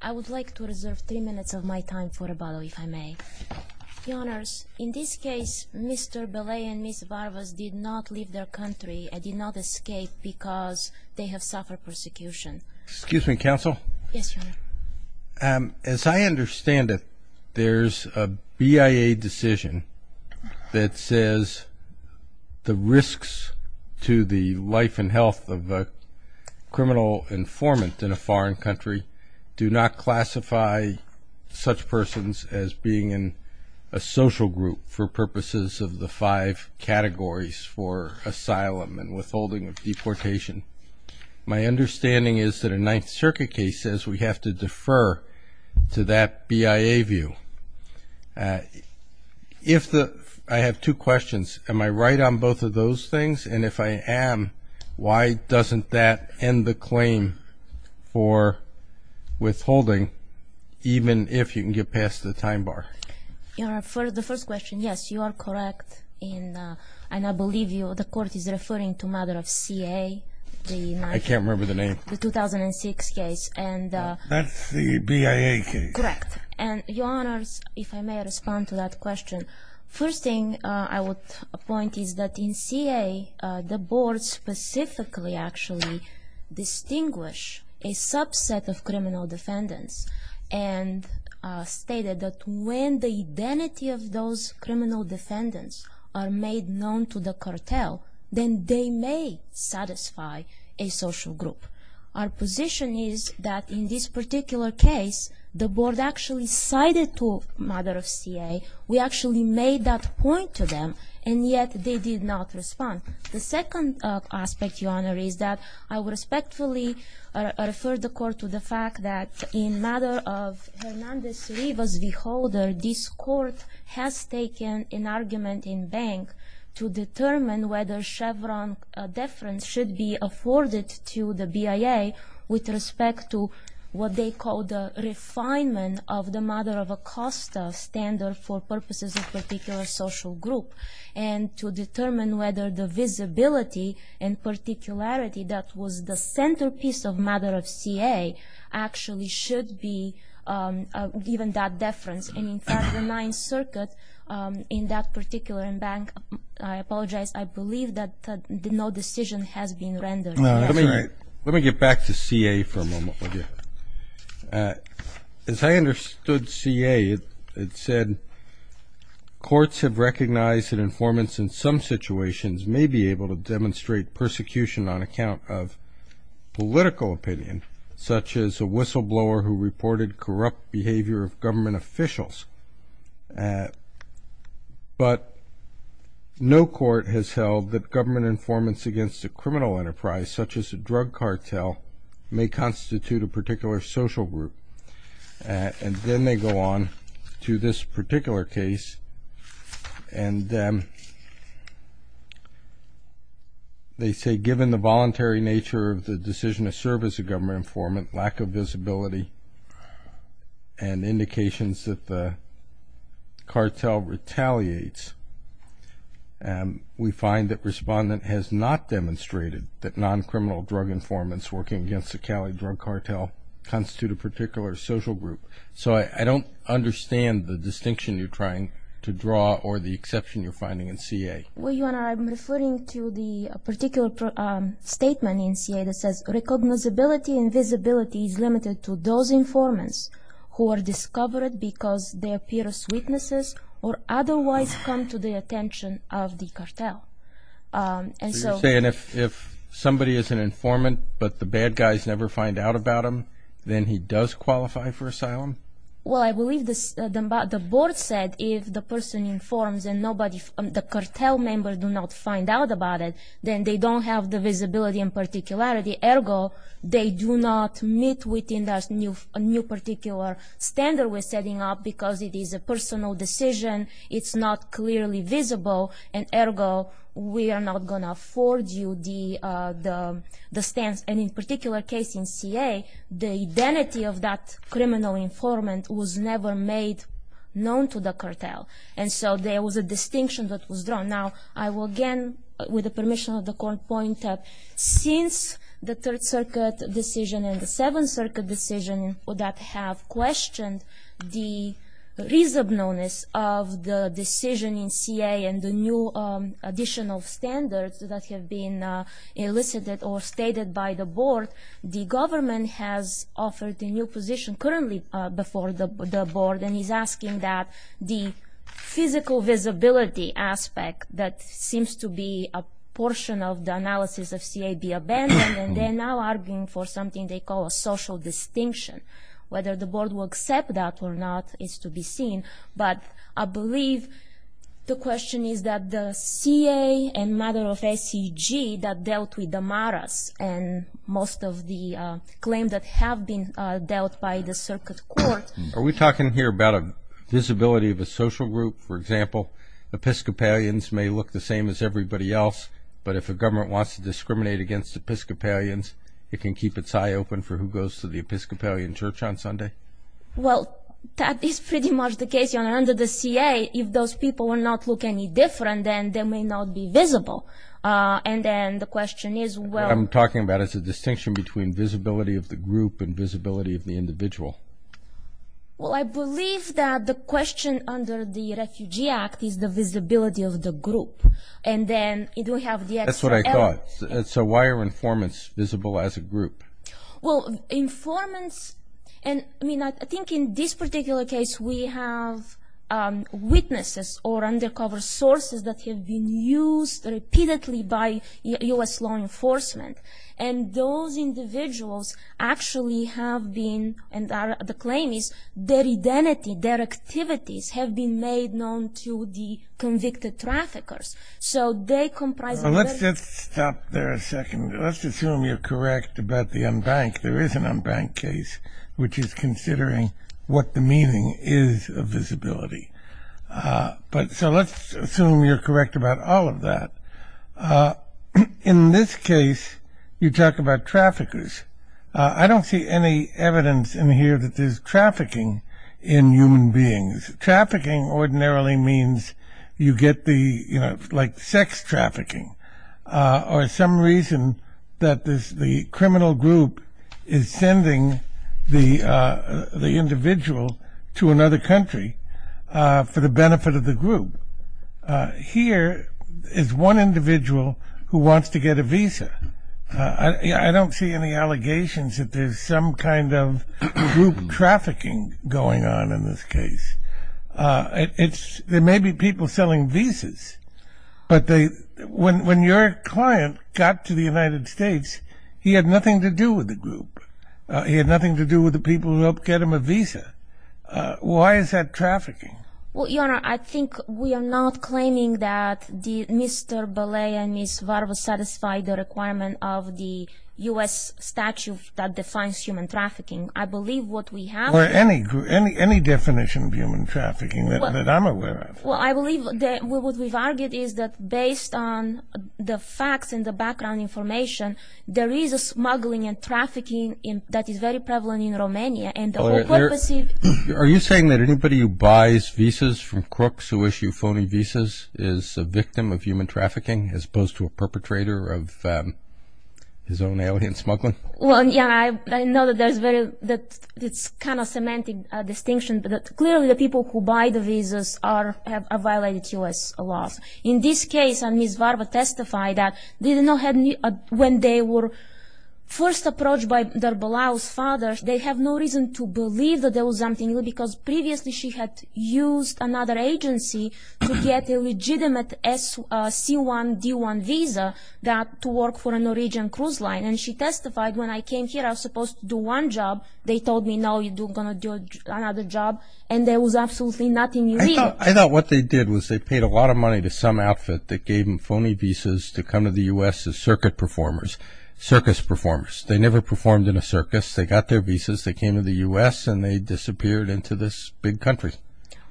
I would like to reserve three minutes of my time for rebuttal, if I may. Your Honors, in this case, Mr. Belea and Ms. Varvas did not leave their country and did not escape because they have suffered persecution. Excuse me, Counsel. Yes, Your Honor. As I understand it, there's a BIA decision that says the risks to the life and health of a criminal informant in a foreign country do not classify such persons as being in a social group for purposes of the five categories for asylum and withholding of deportation. My understanding is that a Ninth Circuit case says we have to defer to that BIA view. I have two questions. Am I right on both of those things? And if I am, why doesn't that end the claim for withholding, even if you can get past the time bar? Your Honor, for the first question, yes, you are correct. And I believe the Court is referring to a matter of CA. I can't remember the name. The 2006 case. That's the BIA case. Correct. And, Your Honor, if I may respond to that question, first thing I would point is that in CA, the board specifically actually distinguished a subset of criminal defendants and stated that when the identity of those criminal defendants are made known to the cartel, then they may satisfy a social group. Our position is that in this particular case, the board actually cited to matter of CA. We actually made that point to them, and yet they did not respond. The second aspect, Your Honor, is that I would respectfully refer the Court to the fact that in matter of Hernandez-Rivas v. Holder, this Court has taken an argument in bank to determine whether Chevron deference should be afforded to the BIA with respect to what they call the refinement of the matter of Acosta standard for purposes of particular social group and to determine whether the visibility and particularity that was the centerpiece of matter of CA actually should be given that deference. And, in fact, the Ninth Circuit in that particular bank, I apologize, I believe that no decision has been rendered. No, that's right. Let me get back to CA for a moment, will you? As I understood CA, it said courts have recognized that informants in some situations may be able to demonstrate persecution on account of political opinion, such as a whistleblower who reported corrupt behavior of government officials. But no court has held that government informants against a criminal enterprise, such as a drug cartel, may constitute a particular social group. And then they go on to this particular case, and they say given the voluntary nature of the decision to serve as a government informant, lack of visibility, and indications that the cartel retaliates, we find that respondent has not demonstrated that non-criminal drug informants working against the Cali drug cartel constitute a particular social group. So I don't understand the distinction you're trying to draw or the exception you're finding in CA. Well, Your Honor, I'm referring to the particular statement in CA that says recognizability and visibility is limited to those informants who are discovered because they appear as witnesses or otherwise come to the attention of the cartel. So you're saying if somebody is an informant but the bad guys never find out about them, then he does qualify for asylum? Well, I believe the board said if the person informs and the cartel members do not find out about it, then they don't have the visibility and particularity. Ergo, they do not meet within that new particular standard we're setting up because it is a personal decision, it's not clearly visible, and ergo, we are not going to afford you the stance. And in a particular case in CA, the identity of that criminal informant was never made known to the cartel. And so there was a distinction that was drawn. Now, I will again, with the permission of the Court, point out since the Third Circuit decision and the Seventh Circuit decision that have questioned the reasonableness of the decision in CA and the new additional standards that have been elicited or stated by the board, the government has offered a new position currently before the board and is asking that the physical visibility aspect that seems to be a portion of the analysis of CA be abandoned and they're now arguing for something they call a social distinction. Whether the board will accept that or not is to be seen. But I believe the question is that the CA and matter of SCG that dealt with Amaras and most of the claims that have been dealt by the Circuit Court. Are we talking here about a visibility of a social group? For example, Episcopalians may look the same as everybody else, but if a government wants to discriminate against Episcopalians, it can keep its eye open for who goes to the Episcopalian church on Sunday? Well, that is pretty much the case. Under the CA, if those people will not look any different, then they may not be visible. And then the question is, well... What I'm talking about is a distinction between visibility of the group and visibility of the individual. Well, I believe that the question under the Refugee Act is the visibility of the group. And then you do have the extra... That's what I thought. So why are informants visible as a group? Well, informants... I mean, I think in this particular case, we have witnesses or undercover sources that have been used repeatedly by U.S. law enforcement. And those individuals actually have been... And the claim is their identity, their activities, have been made known to the convicted traffickers. So they comprise... Let's just stop there a second. Let's assume you're correct about the unbanked. There is an unbanked case, which is considering what the meaning is of visibility. So let's assume you're correct about all of that. In this case, you talk about traffickers. I don't see any evidence in here that there's trafficking in human beings. Trafficking ordinarily means you get the... Like sex trafficking. Or some reason that the criminal group is sending the individual to another country for the benefit of the group. Here is one individual who wants to get a visa. I don't see any allegations that there's some kind of group trafficking going on in this case. There may be people selling visas. But when your client got to the United States, he had nothing to do with the group. He had nothing to do with the people who helped get him a visa. Why is that trafficking? Well, Your Honor, I think we are not claiming that Mr. Belay and Ms. Varva satisfy the requirement of the U.S. statute that defines human trafficking. I believe what we have... Or any definition of human trafficking that I'm aware of. Well, I believe what we've argued is that based on the facts and the background information, there is a smuggling and trafficking that is very prevalent in Romania. Are you saying that anybody who buys visas from crooks who issue phony visas is a victim of human trafficking as opposed to a perpetrator of his own alien smuggling? Well, yeah. I know that it's kind of a semantic distinction. Clearly, the people who buy the visas have violated U.S. laws. In this case, Ms. Varva testified that when they were first approached by Darbalao's father, they have no reason to believe that there was something, because previously she had used another agency to get a legitimate C1, D1 visa to work for a Norwegian cruise line. And she testified, when I came here, I was supposed to do one job. They told me, no, you're going to do another job. And there was absolutely nothing real. I thought what they did was they paid a lot of money to some outfit that gave them phony visas to come to the U.S. as circus performers. They never performed in a circus. They got their visas. They came to the U.S. and they disappeared into this big country.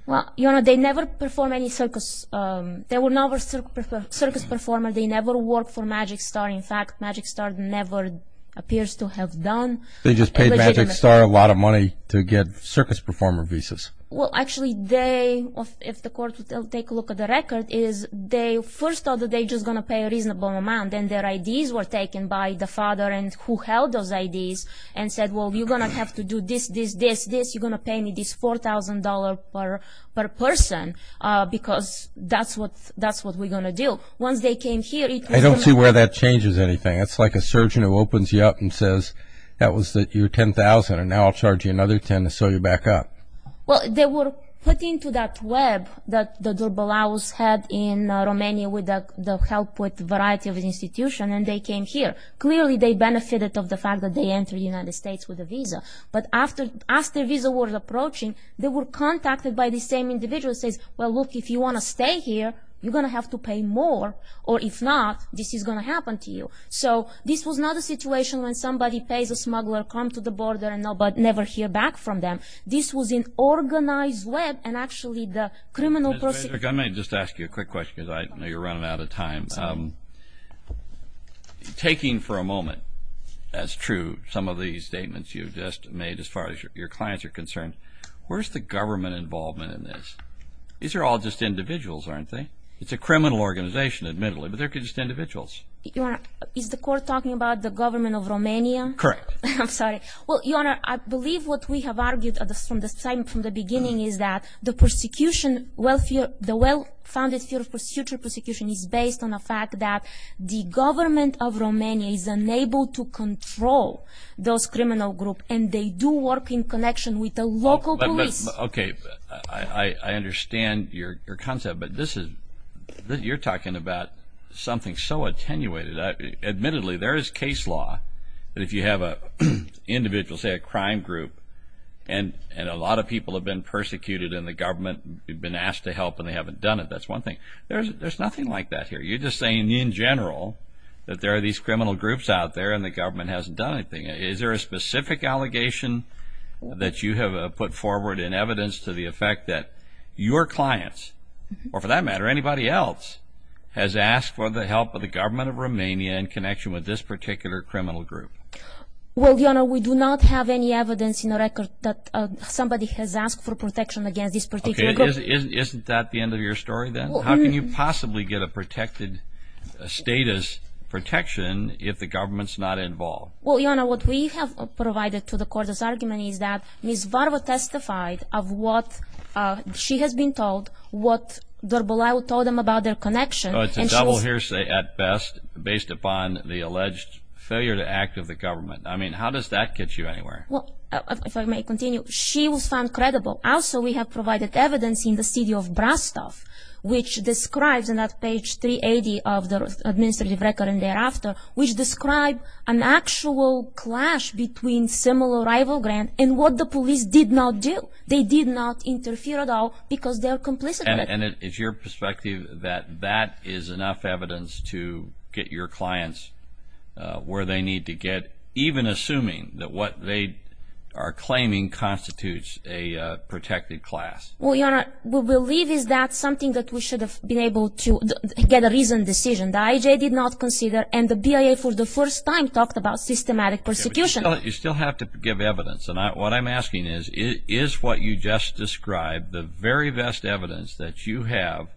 Well, you know, they never performed any circus. They were never circus performers. They never worked for Magic Star. In fact, Magic Star never appears to have done. They just paid Magic Star a lot of money to get circus performer visas. Well, actually, they, if the court will take a look at the record, is they first thought that they were just going to pay a reasonable amount, and their IDs were taken by the father who held those IDs, and said, well, you're going to have to do this, this, this, this. You're going to pay me this $4,000 per person because that's what we're going to do. Once they came here, it was... I don't see where that changes anything. It's like a surgeon who opens you up and says, that was your $10,000, and now I'll charge you another $10,000 to sew you back up. Well, they were put into that web that the Durbalaus had in Romania with the help with a variety of institutions, and they came here. Clearly, they benefited of the fact that they entered the United States with a visa. But after their visa was approaching, they were contacted by the same individual who says, well, look, if you want to stay here, you're going to have to pay more, or if not, this is going to happen to you. So this was not a situation when somebody pays a smuggler, come to the border, and nobody, never hear back from them. This was an organized web, and actually the criminal... Ms. Vesic, I might just ask you a quick question because I know you're running out of time. Taking for a moment as true some of these statements you've just made as far as your clients are concerned, where's the government involvement in this? These are all just individuals, aren't they? It's a criminal organization, admittedly, but they're just individuals. Your Honor, is the court talking about the government of Romania? Correct. I'm sorry. Well, Your Honor, I believe what we have argued from the beginning is that the persecution, the well-founded future persecution is based on the fact that the government of Romania is unable to control those criminal groups, and they do work in connection with the local police. I understand your concept, but you're talking about something so attenuated. Admittedly, there is case law that if you have an individual, say a crime group, and a lot of people have been persecuted and the government has been asked to help and they haven't done it, that's one thing. There's nothing like that here. You're just saying in general that there are these criminal groups out there and the government hasn't done anything. Is there a specific allegation that you have put forward in evidence to the effect that your clients, or for that matter anybody else, has asked for the help of the government of Romania in connection with this particular criminal group? Well, Your Honor, we do not have any evidence in the record that somebody has asked for protection against this particular group. Isn't that the end of your story then? How can you possibly get a protected status protection if the government's not involved? Well, Your Honor, what we have provided to the court as argument is that Ms. Varva testified of what she has been told, what Dr. Bolayu told them about their connection. Oh, it's a double hearsay at best, based upon the alleged failure to act of the government. I mean, how does that get you anywhere? Well, if I may continue, she was found credible. Also, we have provided evidence in the city of Brastov, which describes in that page 380 of the administrative record and thereafter, which describes an actual clash between similar rival grants and what the police did not do. They did not interfere at all because they are complicit. And is your perspective that that is enough evidence to get your clients where they need to get, even assuming that what they are claiming constitutes a protected class? Well, Your Honor, we believe that is something that we should have been able to get a reasoned decision. The IJ did not consider, and the BIA for the first time talked about systematic persecution. You still have to give evidence, and what I'm asking is, is what you just described the very best evidence that you have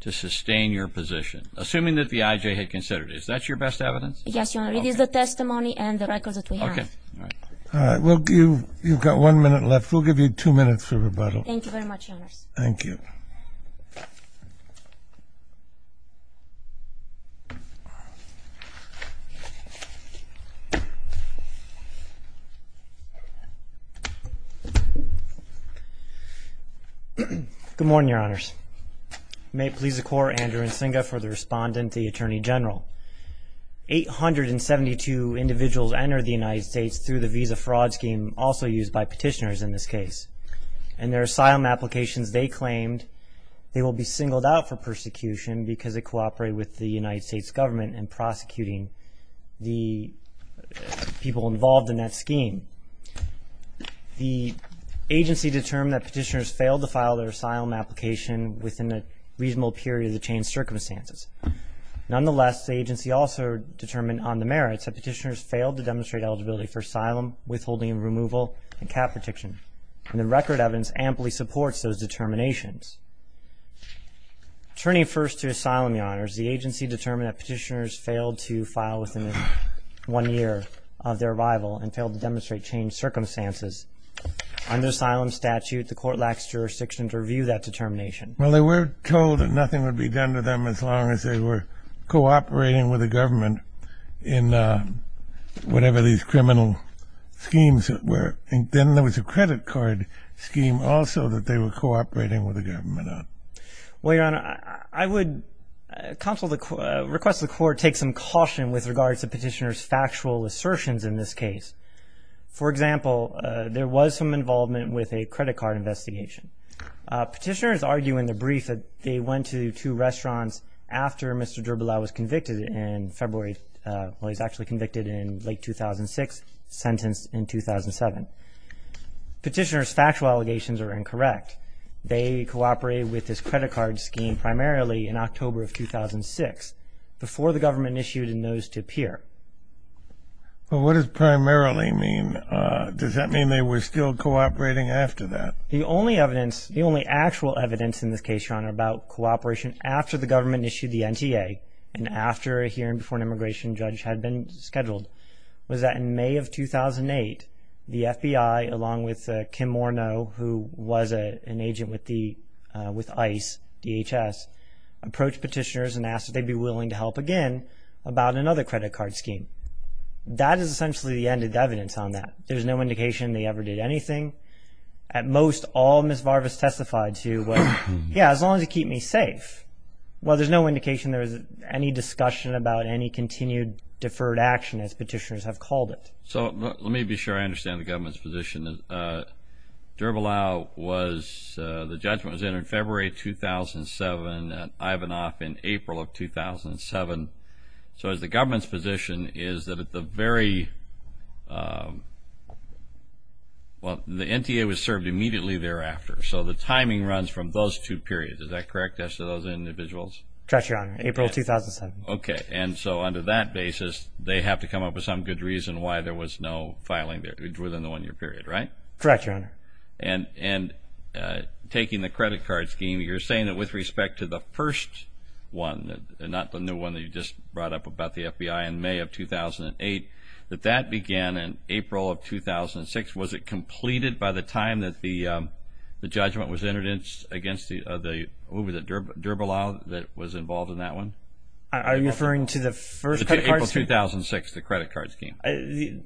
to sustain your position, assuming that the IJ had considered it. Is that your best evidence? Yes, Your Honor, it is the testimony and the records that we have. Okay. All right. Well, you've got one minute left. We'll give you two minutes for rebuttal. Thank you very much, Your Honor. Thank you. Thank you. Good morning, Your Honors. May it please the Court, Andrew Nsinga for the respondent, the Attorney General. Eight hundred and seventy-two individuals entered the United States through the visa fraud scheme, also used by petitioners in this case, and their asylum applications they claimed they will be singled out for persecution because they cooperated with the United States government in prosecuting the people involved in that scheme. The agency determined that petitioners failed to file their asylum application within a reasonable period of the changed circumstances. Nonetheless, the agency also determined on the merits that petitioners failed to demonstrate eligibility for asylum, withholding and removal, and cap protection, and the record evidence amply supports those determinations. Turning first to asylum, Your Honors, the agency determined that petitioners failed to file within one year of their arrival and failed to demonstrate changed circumstances. Under asylum statute, the Court lacks jurisdiction to review that determination. Well, they were told that nothing would be done to them as long as they were cooperating with the government in whatever these criminal schemes were. Then there was a credit card scheme also that they were cooperating with the government on. Well, Your Honor, I would request the Court take some caution with regards to petitioners' factual assertions in this case. For example, there was some involvement with a credit card investigation. Petitioners argue in the brief that they went to two restaurants after Mr. Dribbleau was convicted in February, well, he was actually convicted in late 2006, sentenced in 2007. Petitioners' factual allegations are incorrect. They cooperated with this credit card scheme primarily in October of 2006, before the government issued a notice to appear. Well, what does primarily mean? Does that mean they were still cooperating after that? The only evidence, the only actual evidence in this case, Your Honor, about cooperation after the government issued the NTA and after a hearing before an immigration judge had been scheduled was that in May of 2008, the FBI, along with Kim Morneau, who was an agent with ICE, DHS, approached petitioners and asked if they'd be willing to help again about another credit card scheme. That is essentially the end of the evidence on that. There's no indication they ever did anything. At most, all Ms. Varvas testified to was, yeah, as long as you keep me safe. Well, there's no indication there was any discussion about any continued deferred action, as petitioners have called it. So let me be sure I understand the government's position. Dribbleau was, the judgment was entered in February 2007, and Ivanov in April of 2007. So the government's position is that at the very, well, the NTA was served immediately thereafter. So the timing runs from those two periods. Is that correct as to those individuals? Correct, Your Honor. April 2007. Okay. And so under that basis, they have to come up with some good reason why there was no filing within the one-year period, right? Correct, Your Honor. And taking the credit card scheme, you're saying that with respect to the first one, not the new one that you just brought up about the FBI in May of 2008, that that began in April of 2006. Was it completed by the time that the judgment was entered against the Dribbleau that was involved in that one? Are you referring to the first credit card scheme? April 2006, the credit card scheme.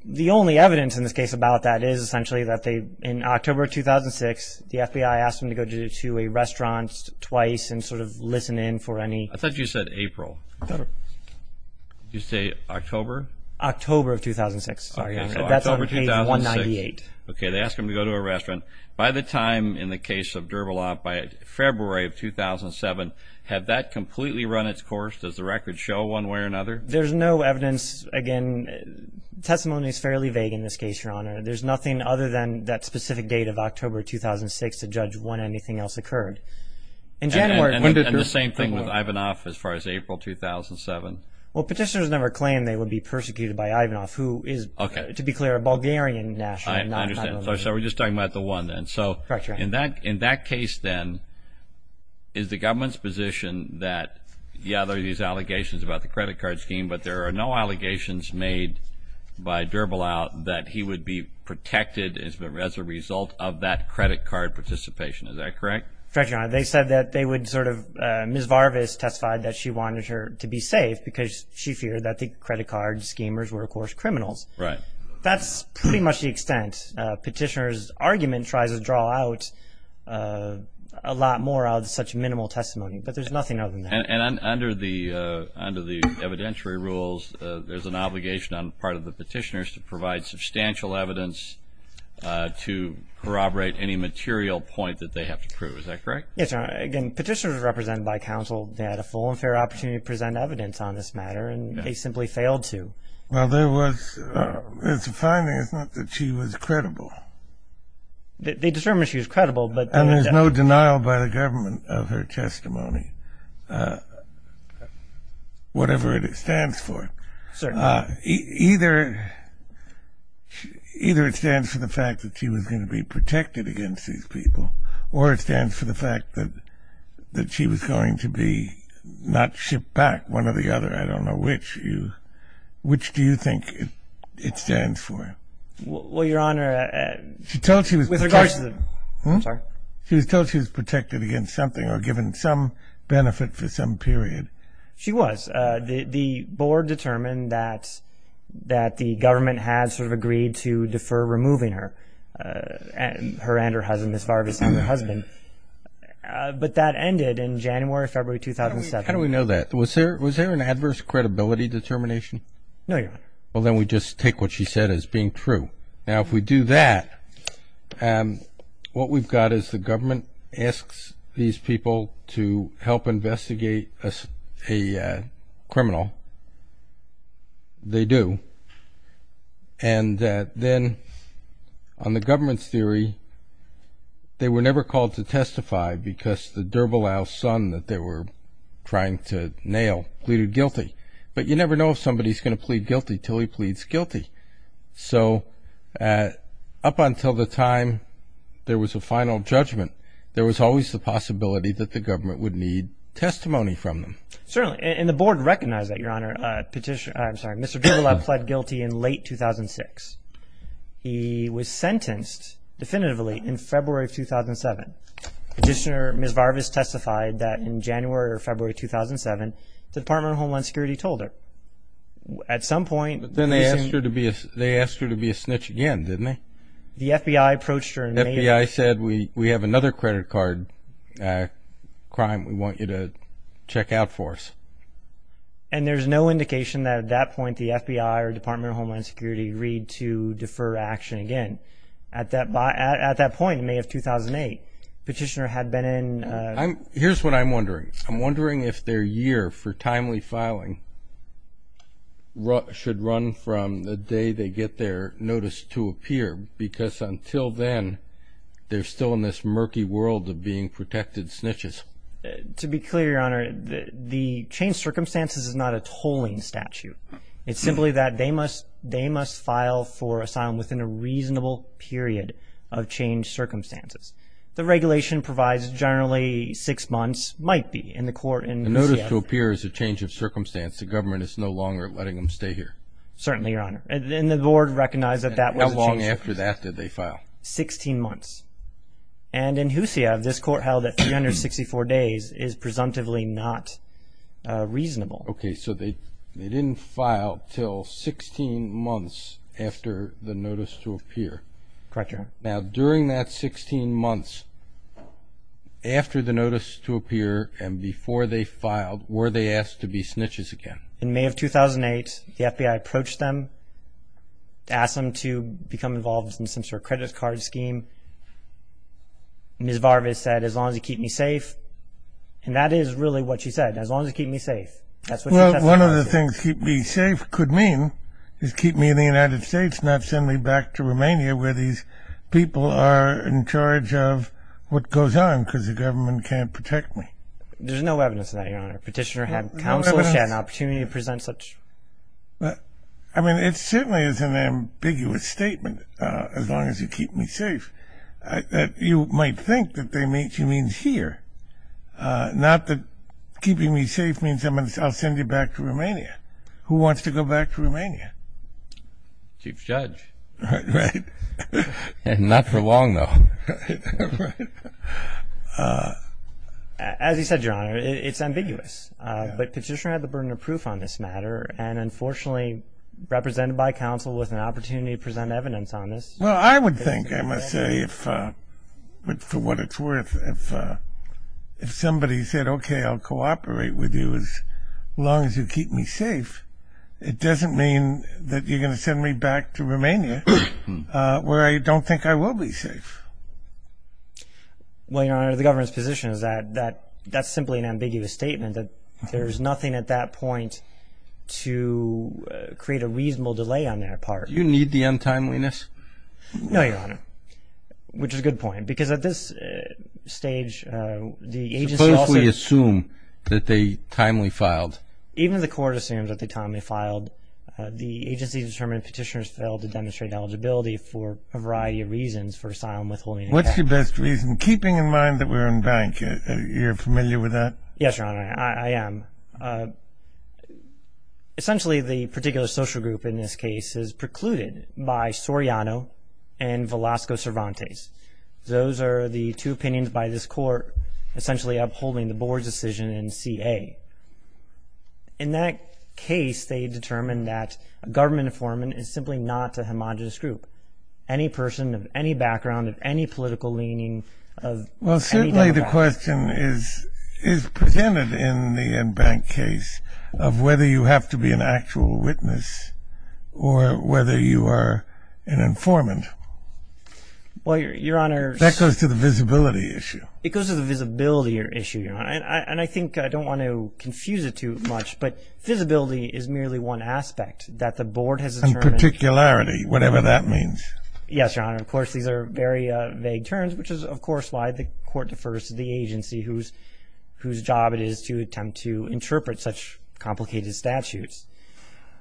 The only evidence in this case about that is essentially that in October 2006, the FBI asked them to go to a restaurant twice and sort of listen in for any – I thought you said April. Did you say October? October of 2006. Sorry, that's on page 198. Okay, they asked them to go to a restaurant. By the time in the case of Dribbleau, by February of 2007, had that completely run its course? Does the record show one way or another? There's no evidence. Again, testimony is fairly vague in this case, Your Honor. There's nothing other than that specific date of October 2006 to judge when anything else occurred. And the same thing with Ivanoff as far as April 2007? Well, petitioners never claimed they would be persecuted by Ivanoff, who is, to be clear, a Bulgarian national. I understand. So we're just talking about the one then. Correct, Your Honor. In that case then, is the government's position that, yeah, there are these allegations about the credit card scheme, but there are no allegations made by Dribbleau that he would be protected as a result of that credit card participation. Is that correct? Correct, Your Honor. They said that they would sort of Ms. Varvis testified that she wanted her to be safe because she feared that the credit card schemers were, of course, criminals. Right. That's pretty much the extent. Petitioners' argument tries to draw out a lot more of such minimal testimony, but there's nothing other than that. And under the evidentiary rules, there's an obligation on the part of the petitioners to provide substantial evidence to corroborate any material point that they have to prove. Is that correct? Yes, Your Honor. Again, petitioners are represented by counsel. They had a full and fair opportunity to present evidence on this matter, and they simply failed to. Well, there was a finding. It's not that she was credible. They determined she was credible. And there's no denial by the government of her testimony, whatever it stands for. Certainly. Either it stands for the fact that she was going to be protected against these people, or it stands for the fact that she was going to be not shipped back, one or the other. I don't know which. Which do you think it stands for? Well, Your Honor, with regards to the... She was told she was protected against something or given some benefit for some period. She was. The board determined that the government had sort of agreed to defer removing her and her husband, Ms. Vargas and her husband. But that ended in January, February 2007. How do we know that? Was there an adverse credibility determination? No, Your Honor. Well, then we just take what she said as being true. Now, if we do that, what we've got is the government asks these people to help investigate a criminal. They do. And then on the government's theory, they were never called to testify because the Durbelow son that they were trying to nail pleaded guilty. But you never know if somebody's going to plead guilty until he pleads guilty. So up until the time there was a final judgment, there was always the possibility that the government would need testimony from them. Certainly, and the board recognized that, Your Honor. Mr. Durbelow pled guilty in late 2006. He was sentenced definitively in February 2007. Petitioner Ms. Vargas testified that in January or February 2007, the Department of Homeland Security told her. But then they asked her to be a snitch again, didn't they? The FBI approached her. The FBI said, we have another credit card crime we want you to check out for us. And there's no indication that at that point the FBI or Department of Homeland Security agreed to defer action again. At that point, in May of 2008, Petitioner had been in. Here's what I'm wondering. I'm wondering if their year for timely filing should run from the day they get their notice to appear. Because until then, they're still in this murky world of being protected snitches. To be clear, Your Honor, the changed circumstances is not a tolling statute. It's simply that they must file for asylum within a reasonable period of changed circumstances. The regulation provides generally six months might be in the court in Huseyov. The notice to appear is a change of circumstance. The government is no longer letting them stay here. Certainly, Your Honor. And the board recognized that that was a change of circumstance. How long after that did they file? Sixteen months. And in Huseyov, this court held that 364 days is presumptively not reasonable. Okay, so they didn't file until 16 months after the notice to appear. Correct, Your Honor. Now, during that 16 months after the notice to appear and before they filed, were they asked to be snitches again? In May of 2008, the FBI approached them, asked them to become involved in some sort of credit card scheme. Ms. Varves said, as long as you keep me safe. And that is really what she said, as long as you keep me safe. Well, one of the things keep me safe could mean is keep me in the United States and not send me back to Romania where these people are in charge of what goes on because the government can't protect me. There's no evidence of that, Your Honor. Petitioner had counsel. She had an opportunity to present such. I mean, it certainly is an ambiguous statement, as long as you keep me safe. You might think that she means here, not that keeping me safe means I'll send you back to Romania. Who wants to go back to Romania? Chief Judge. Right. Not for long, though. As you said, Your Honor, it's ambiguous. But Petitioner had the burden of proof on this matter, and unfortunately represented by counsel with an opportunity to present evidence on this. Well, I would think, I must say, for what it's worth, if somebody said, okay, I'll cooperate with you as long as you keep me safe, it doesn't mean that you're going to send me back to Romania where I don't think I will be safe. Well, Your Honor, the government's position is that that's simply an ambiguous statement, that there's nothing at that point to create a reasonable delay on their part. Do you need the untimeliness? No, Your Honor, which is a good point, because at this stage, the agency also may assume that they timely filed. Even if the court assumes that they timely filed, the agency determined Petitioner's failed to demonstrate eligibility for a variety of reasons for asylum withholding. What's your best reason? Keeping in mind that we're in bank, you're familiar with that? Yes, Your Honor, I am. Essentially, the particular social group in this case is precluded by Soriano and Velasco Cervantes. Those are the two opinions by this court essentially upholding the board's decision in CA. In that case, they determined that a government informant is simply not a homogenous group. Any person of any background, of any political leaning, of any demographic. Well, certainly the question is presented in the in-bank case of whether you have to be an actual witness or whether you are an informant. Well, Your Honor. That goes to the visibility issue. It goes to the visibility issue, Your Honor, and I think I don't want to confuse it too much, but visibility is merely one aspect that the board has determined. And particularity, whatever that means. Yes, Your Honor. Of course, these are very vague terms, which is, of course, why the court defers to the agency whose job it is to attempt to interpret such complicated statutes.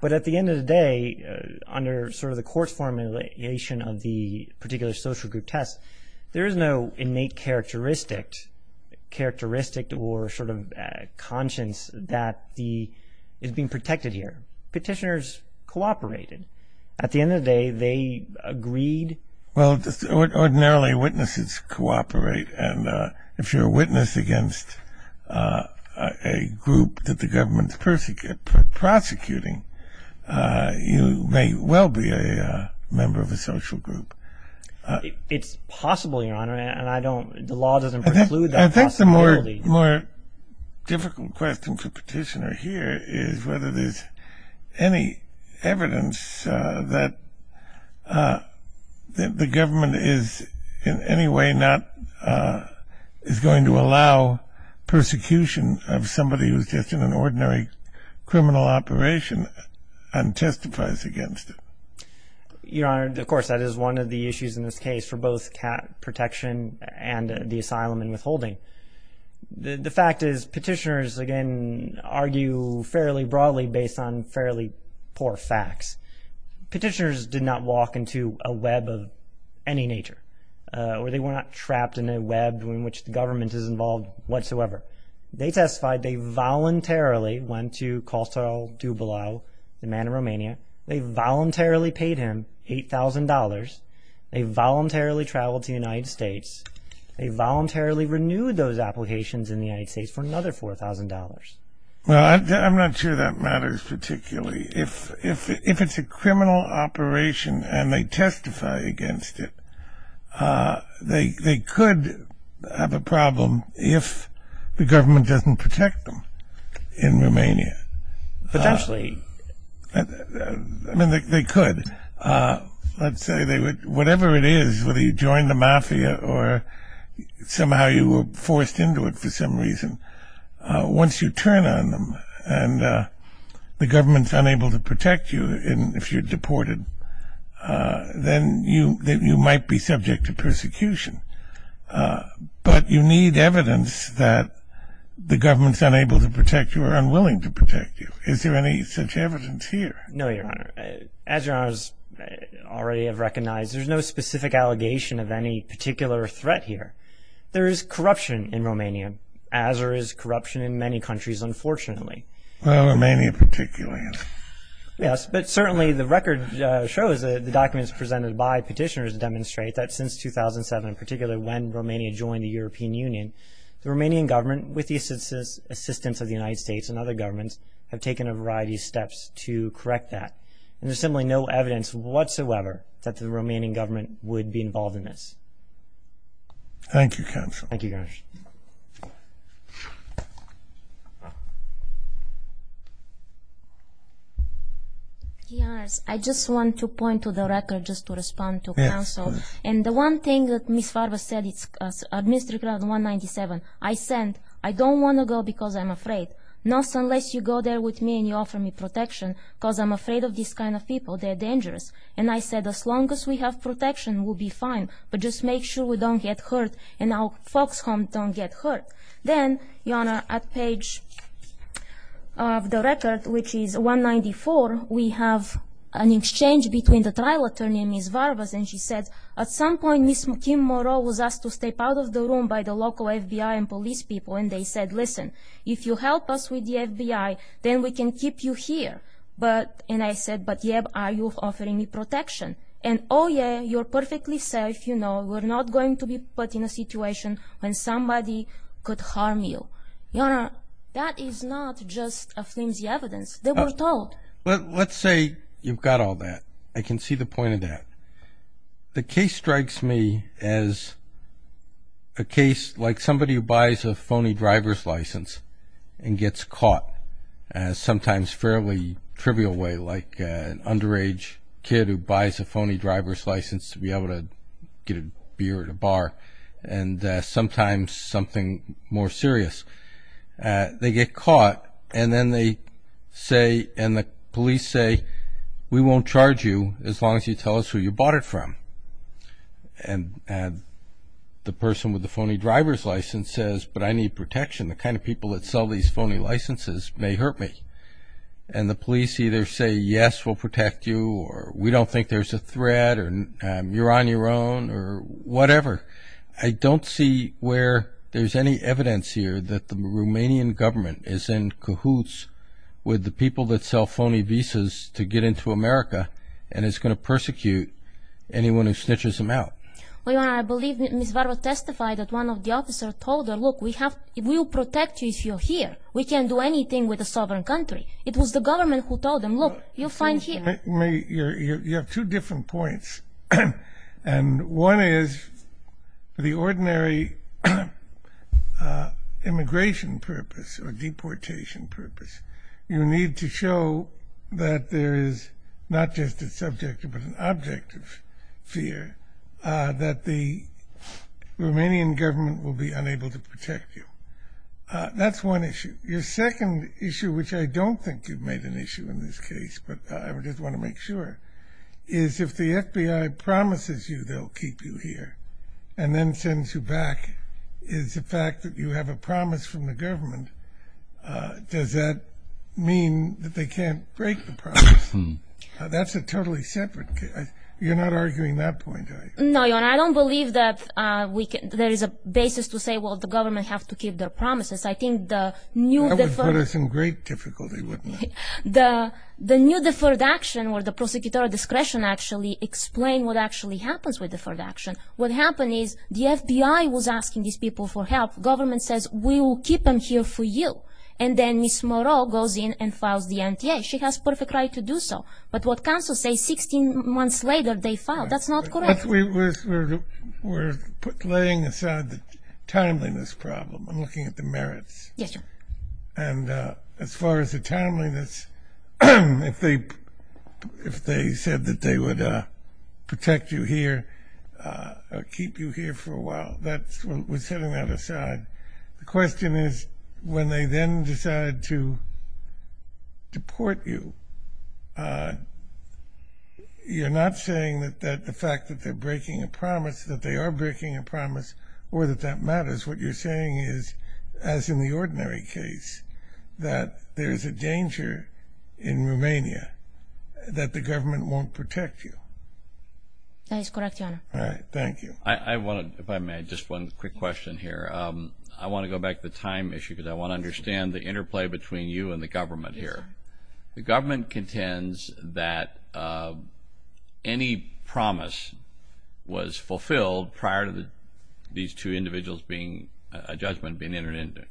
But at the end of the day, under sort of the court's formulation of the particular social group test, there is no innate characteristic or sort of conscience that is being protected here. Petitioners cooperated. At the end of the day, they agreed. Well, ordinarily witnesses cooperate, and if you're a witness against a group that the government is prosecuting, you may well be a member of a social group. It's possible, Your Honor, and the law doesn't preclude that possibility. I think the more difficult question for petitioner here is whether there's any evidence that the government is in any way not going to allow persecution of somebody who's just in an ordinary criminal operation and testifies against it. Your Honor, of course, that is one of the issues in this case for both protection and the asylum and withholding. The fact is, petitioners, again, argue fairly broadly based on fairly poor facts. Petitioners did not walk into a web of any nature, or they were not trapped in a web in which the government is involved whatsoever. They testified they voluntarily went to Costal Dubalau, the man in Romania. They voluntarily paid him $8,000. They voluntarily traveled to the United States. They voluntarily renewed those applications in the United States for another $4,000. Well, I'm not sure that matters particularly. If it's a criminal operation and they testify against it, they could have a problem if the government doesn't protect them in Romania. Potentially. I mean, they could. Let's say they would. Whatever it is, whether you joined the mafia or somehow you were forced into it for some reason, once you turn on them and the government's unable to protect you, if you're deported, then you might be subject to persecution. But you need evidence that the government's unable to protect you or unwilling to protect you. Is there any such evidence here? No, Your Honor. As Your Honor already has recognized, there's no specific allegation of any particular threat here. There is corruption in Romania, as there is corruption in many countries, unfortunately. Well, Romania particularly. Yes, but certainly the record shows, the documents presented by petitioners demonstrate, that since 2007, particularly when Romania joined the European Union, the Romanian government, with the assistance of the United States and other governments, have taken a variety of steps to correct that. And there's simply no evidence whatsoever that the Romanian government would be involved in this. Thank you, Counsel. Thank you, Your Honor. Your Honor, I just want to point to the record just to respond to counsel. Yes, please. And the one thing that Ms. Farvas said, it's Administrative Clause 197. I said, I don't want to go because I'm afraid. Not unless you go there with me and you offer me protection, because I'm afraid of these kind of people. They're dangerous. And I said, as long as we have protection, we'll be fine. But just make sure we don't get hurt and our folks home don't get hurt. Then, Your Honor, at page of the record, which is 194, we have an exchange between the trial attorney and Ms. Farvas. And she said, at some point, Ms. Kim Moreau was asked to step out of the room by the local FBI and police people. And they said, listen, if you help us with the FBI, then we can keep you here. And I said, but, yeah, are you offering me protection? And, oh, yeah, you're perfectly safe. You know, we're not going to be put in a situation when somebody could harm you. Your Honor, that is not just a flimsy evidence. They were told. Let's say you've got all that. I can see the point of that. The case strikes me as a case like somebody who buys a phony driver's license and gets caught in a sometimes fairly trivial way, like an underage kid who buys a phony driver's license to be able to get a beer at a bar, and sometimes something more serious. They get caught, and then they say, and the police say, we won't charge you as long as you tell us who you bought it from. And the person with the phony driver's license says, but I need protection. The kind of people that sell these phony licenses may hurt me. And the police either say, yes, we'll protect you, or we don't think there's a threat, or you're on your own, or whatever. Your Honor, I don't see where there's any evidence here that the Romanian government is in cahoots with the people that sell phony visas to get into America and is going to persecute anyone who snitches them out. Your Honor, I believe Ms. Varva testified that one of the officers told her, look, we'll protect you if you're here. We can't do anything with a sovereign country. It was the government who told them, look, you're fine here. You have two different points. And one is, for the ordinary immigration purpose or deportation purpose, you need to show that there is not just a subjective but an objective fear that the Romanian government will be unable to protect you. That's one issue. Your second issue, which I don't think you've made an issue in this case, but I just want to make sure, is if the FBI promises you they'll keep you here and then sends you back, is the fact that you have a promise from the government, does that mean that they can't break the promise? That's a totally separate case. You're not arguing that point, are you? No, Your Honor. I don't believe that there is a basis to say, well, the government has to keep their promises. I think the new deferred... That would put us in great difficulty, wouldn't it? The new deferred action or the prosecutorial discretion actually explain what actually happens with deferred action. What happened is the FBI was asking these people for help. Government says, we will keep them here for you. And then Ms. Moreau goes in and files the NTA. She has perfect right to do so. But what counsel says, 16 months later they filed. That's not correct. We're laying aside the timeliness problem. I'm looking at the merits. Yes, Your Honor. And as far as the timeliness, if they said that they would protect you here or keep you here for a while, we're setting that aside. The question is when they then decide to deport you, you're not saying that the fact that they're breaking a promise, that they are breaking a promise, or that that matters. What you're saying is, as in the ordinary case, that there is a danger in Romania that the government won't protect you. That is correct, Your Honor. All right. Thank you. If I may, just one quick question here. I want to go back to the time issue because I want to understand the interplay between you and the government here. The government contends that any promise was fulfilled prior to these two individuals' judgment being entered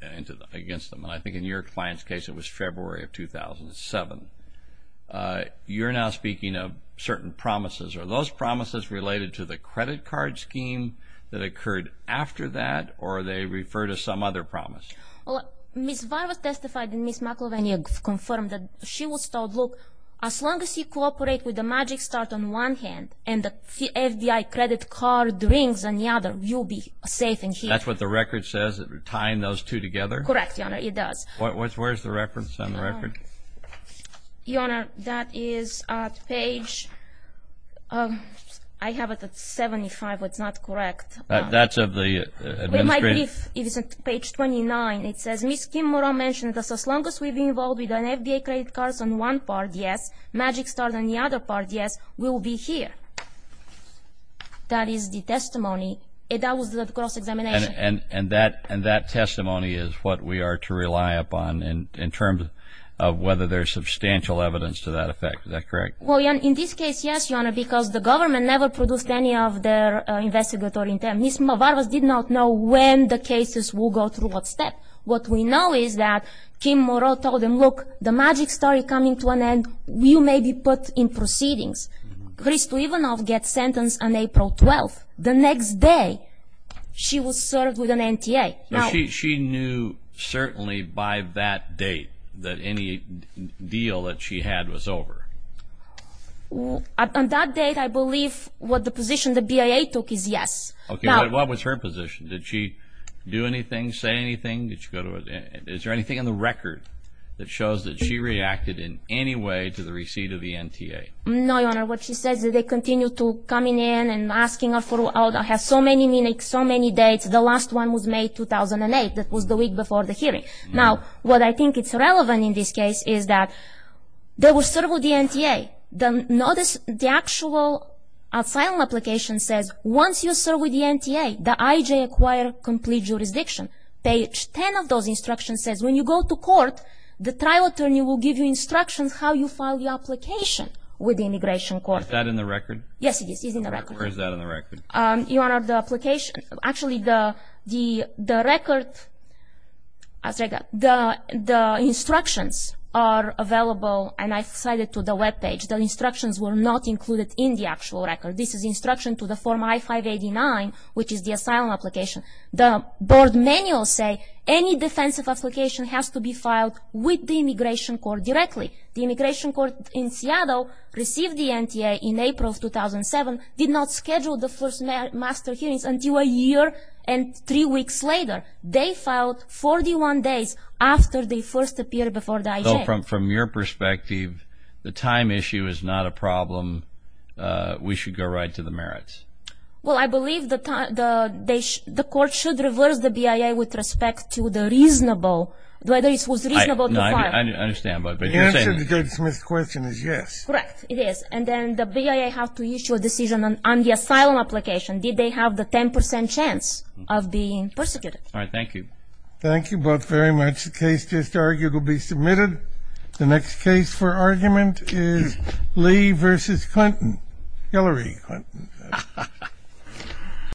against them. And I think in your client's case it was February of 2007. You're now speaking of certain promises. Are those promises related to the credit card scheme that occurred after that or they refer to some other promise? Well, Ms. Varvas testified and Ms. McIlvenny confirmed that she was told, look, as long as you cooperate with the Magic Start on one hand and the FBI credit card rings on the other, you'll be safe in here. That's what the record says, tying those two together? Correct, Your Honor, it does. Where's the reference on the record? Your Honor, that is at page 75. That's not correct. That's of the administration. It's page 29. It says, Ms. Kimura mentioned that as long as we've been involved with the That is the testimony. That was the cross-examination. And that testimony is what we are to rely upon in terms of whether there's substantial evidence to that effect. Is that correct? Well, in this case, yes, Your Honor, because the government never produced any of their investigatory intent. Ms. Varvas did not know when the cases will go through what step. What we know is that Kimura told them, look, the Magic Start is coming to an end. You may be put in proceedings. Krzysztof Ivanov gets sentenced on April 12th. The next day, she was served with an NTA. She knew certainly by that date that any deal that she had was over. On that date, I believe what the position the BIA took is yes. What was her position? Did she do anything, say anything? Is there anything in the record that shows that she reacted in any way to the receipt of the NTA? No, Your Honor. What she says is they continue to come in and asking her for so many minutes, so many dates. The last one was May 2008. That was the week before the hearing. Now, what I think is relevant in this case is that they were served with the NTA. Notice the actual asylum application says once you're served with the NTA, the IJ acquired complete jurisdiction. Page 10 of those instructions says when you go to court, the trial attorney will give you instructions how you file your application. With the immigration court. Is that in the record? Yes, it is. It's in the record. Where is that in the record? Your Honor, the application, actually the record, the instructions are available, and I cited to the webpage. The instructions were not included in the actual record. This is instruction to the form I-589, which is the asylum application. The board manual say any defensive application has to be filed with the immigration court directly. The immigration court in Seattle received the NTA in April 2007, did not schedule the first master hearings until a year and three weeks later. They filed 41 days after they first appeared before the IJ. From your perspective, the time issue is not a problem. We should go right to the merits. Well, I believe the court should reverse the BIA with respect to the reasonable, whether it was reasonable to file. I understand. The answer to Judge Smith's question is yes. Correct. It is. And then the BIA have to issue a decision on the asylum application. Did they have the 10% chance of being persecuted? All right. Thank you. Thank you both very much. The case just argued will be submitted. The next case for argument is Lee v. Clinton, Hillary Clinton.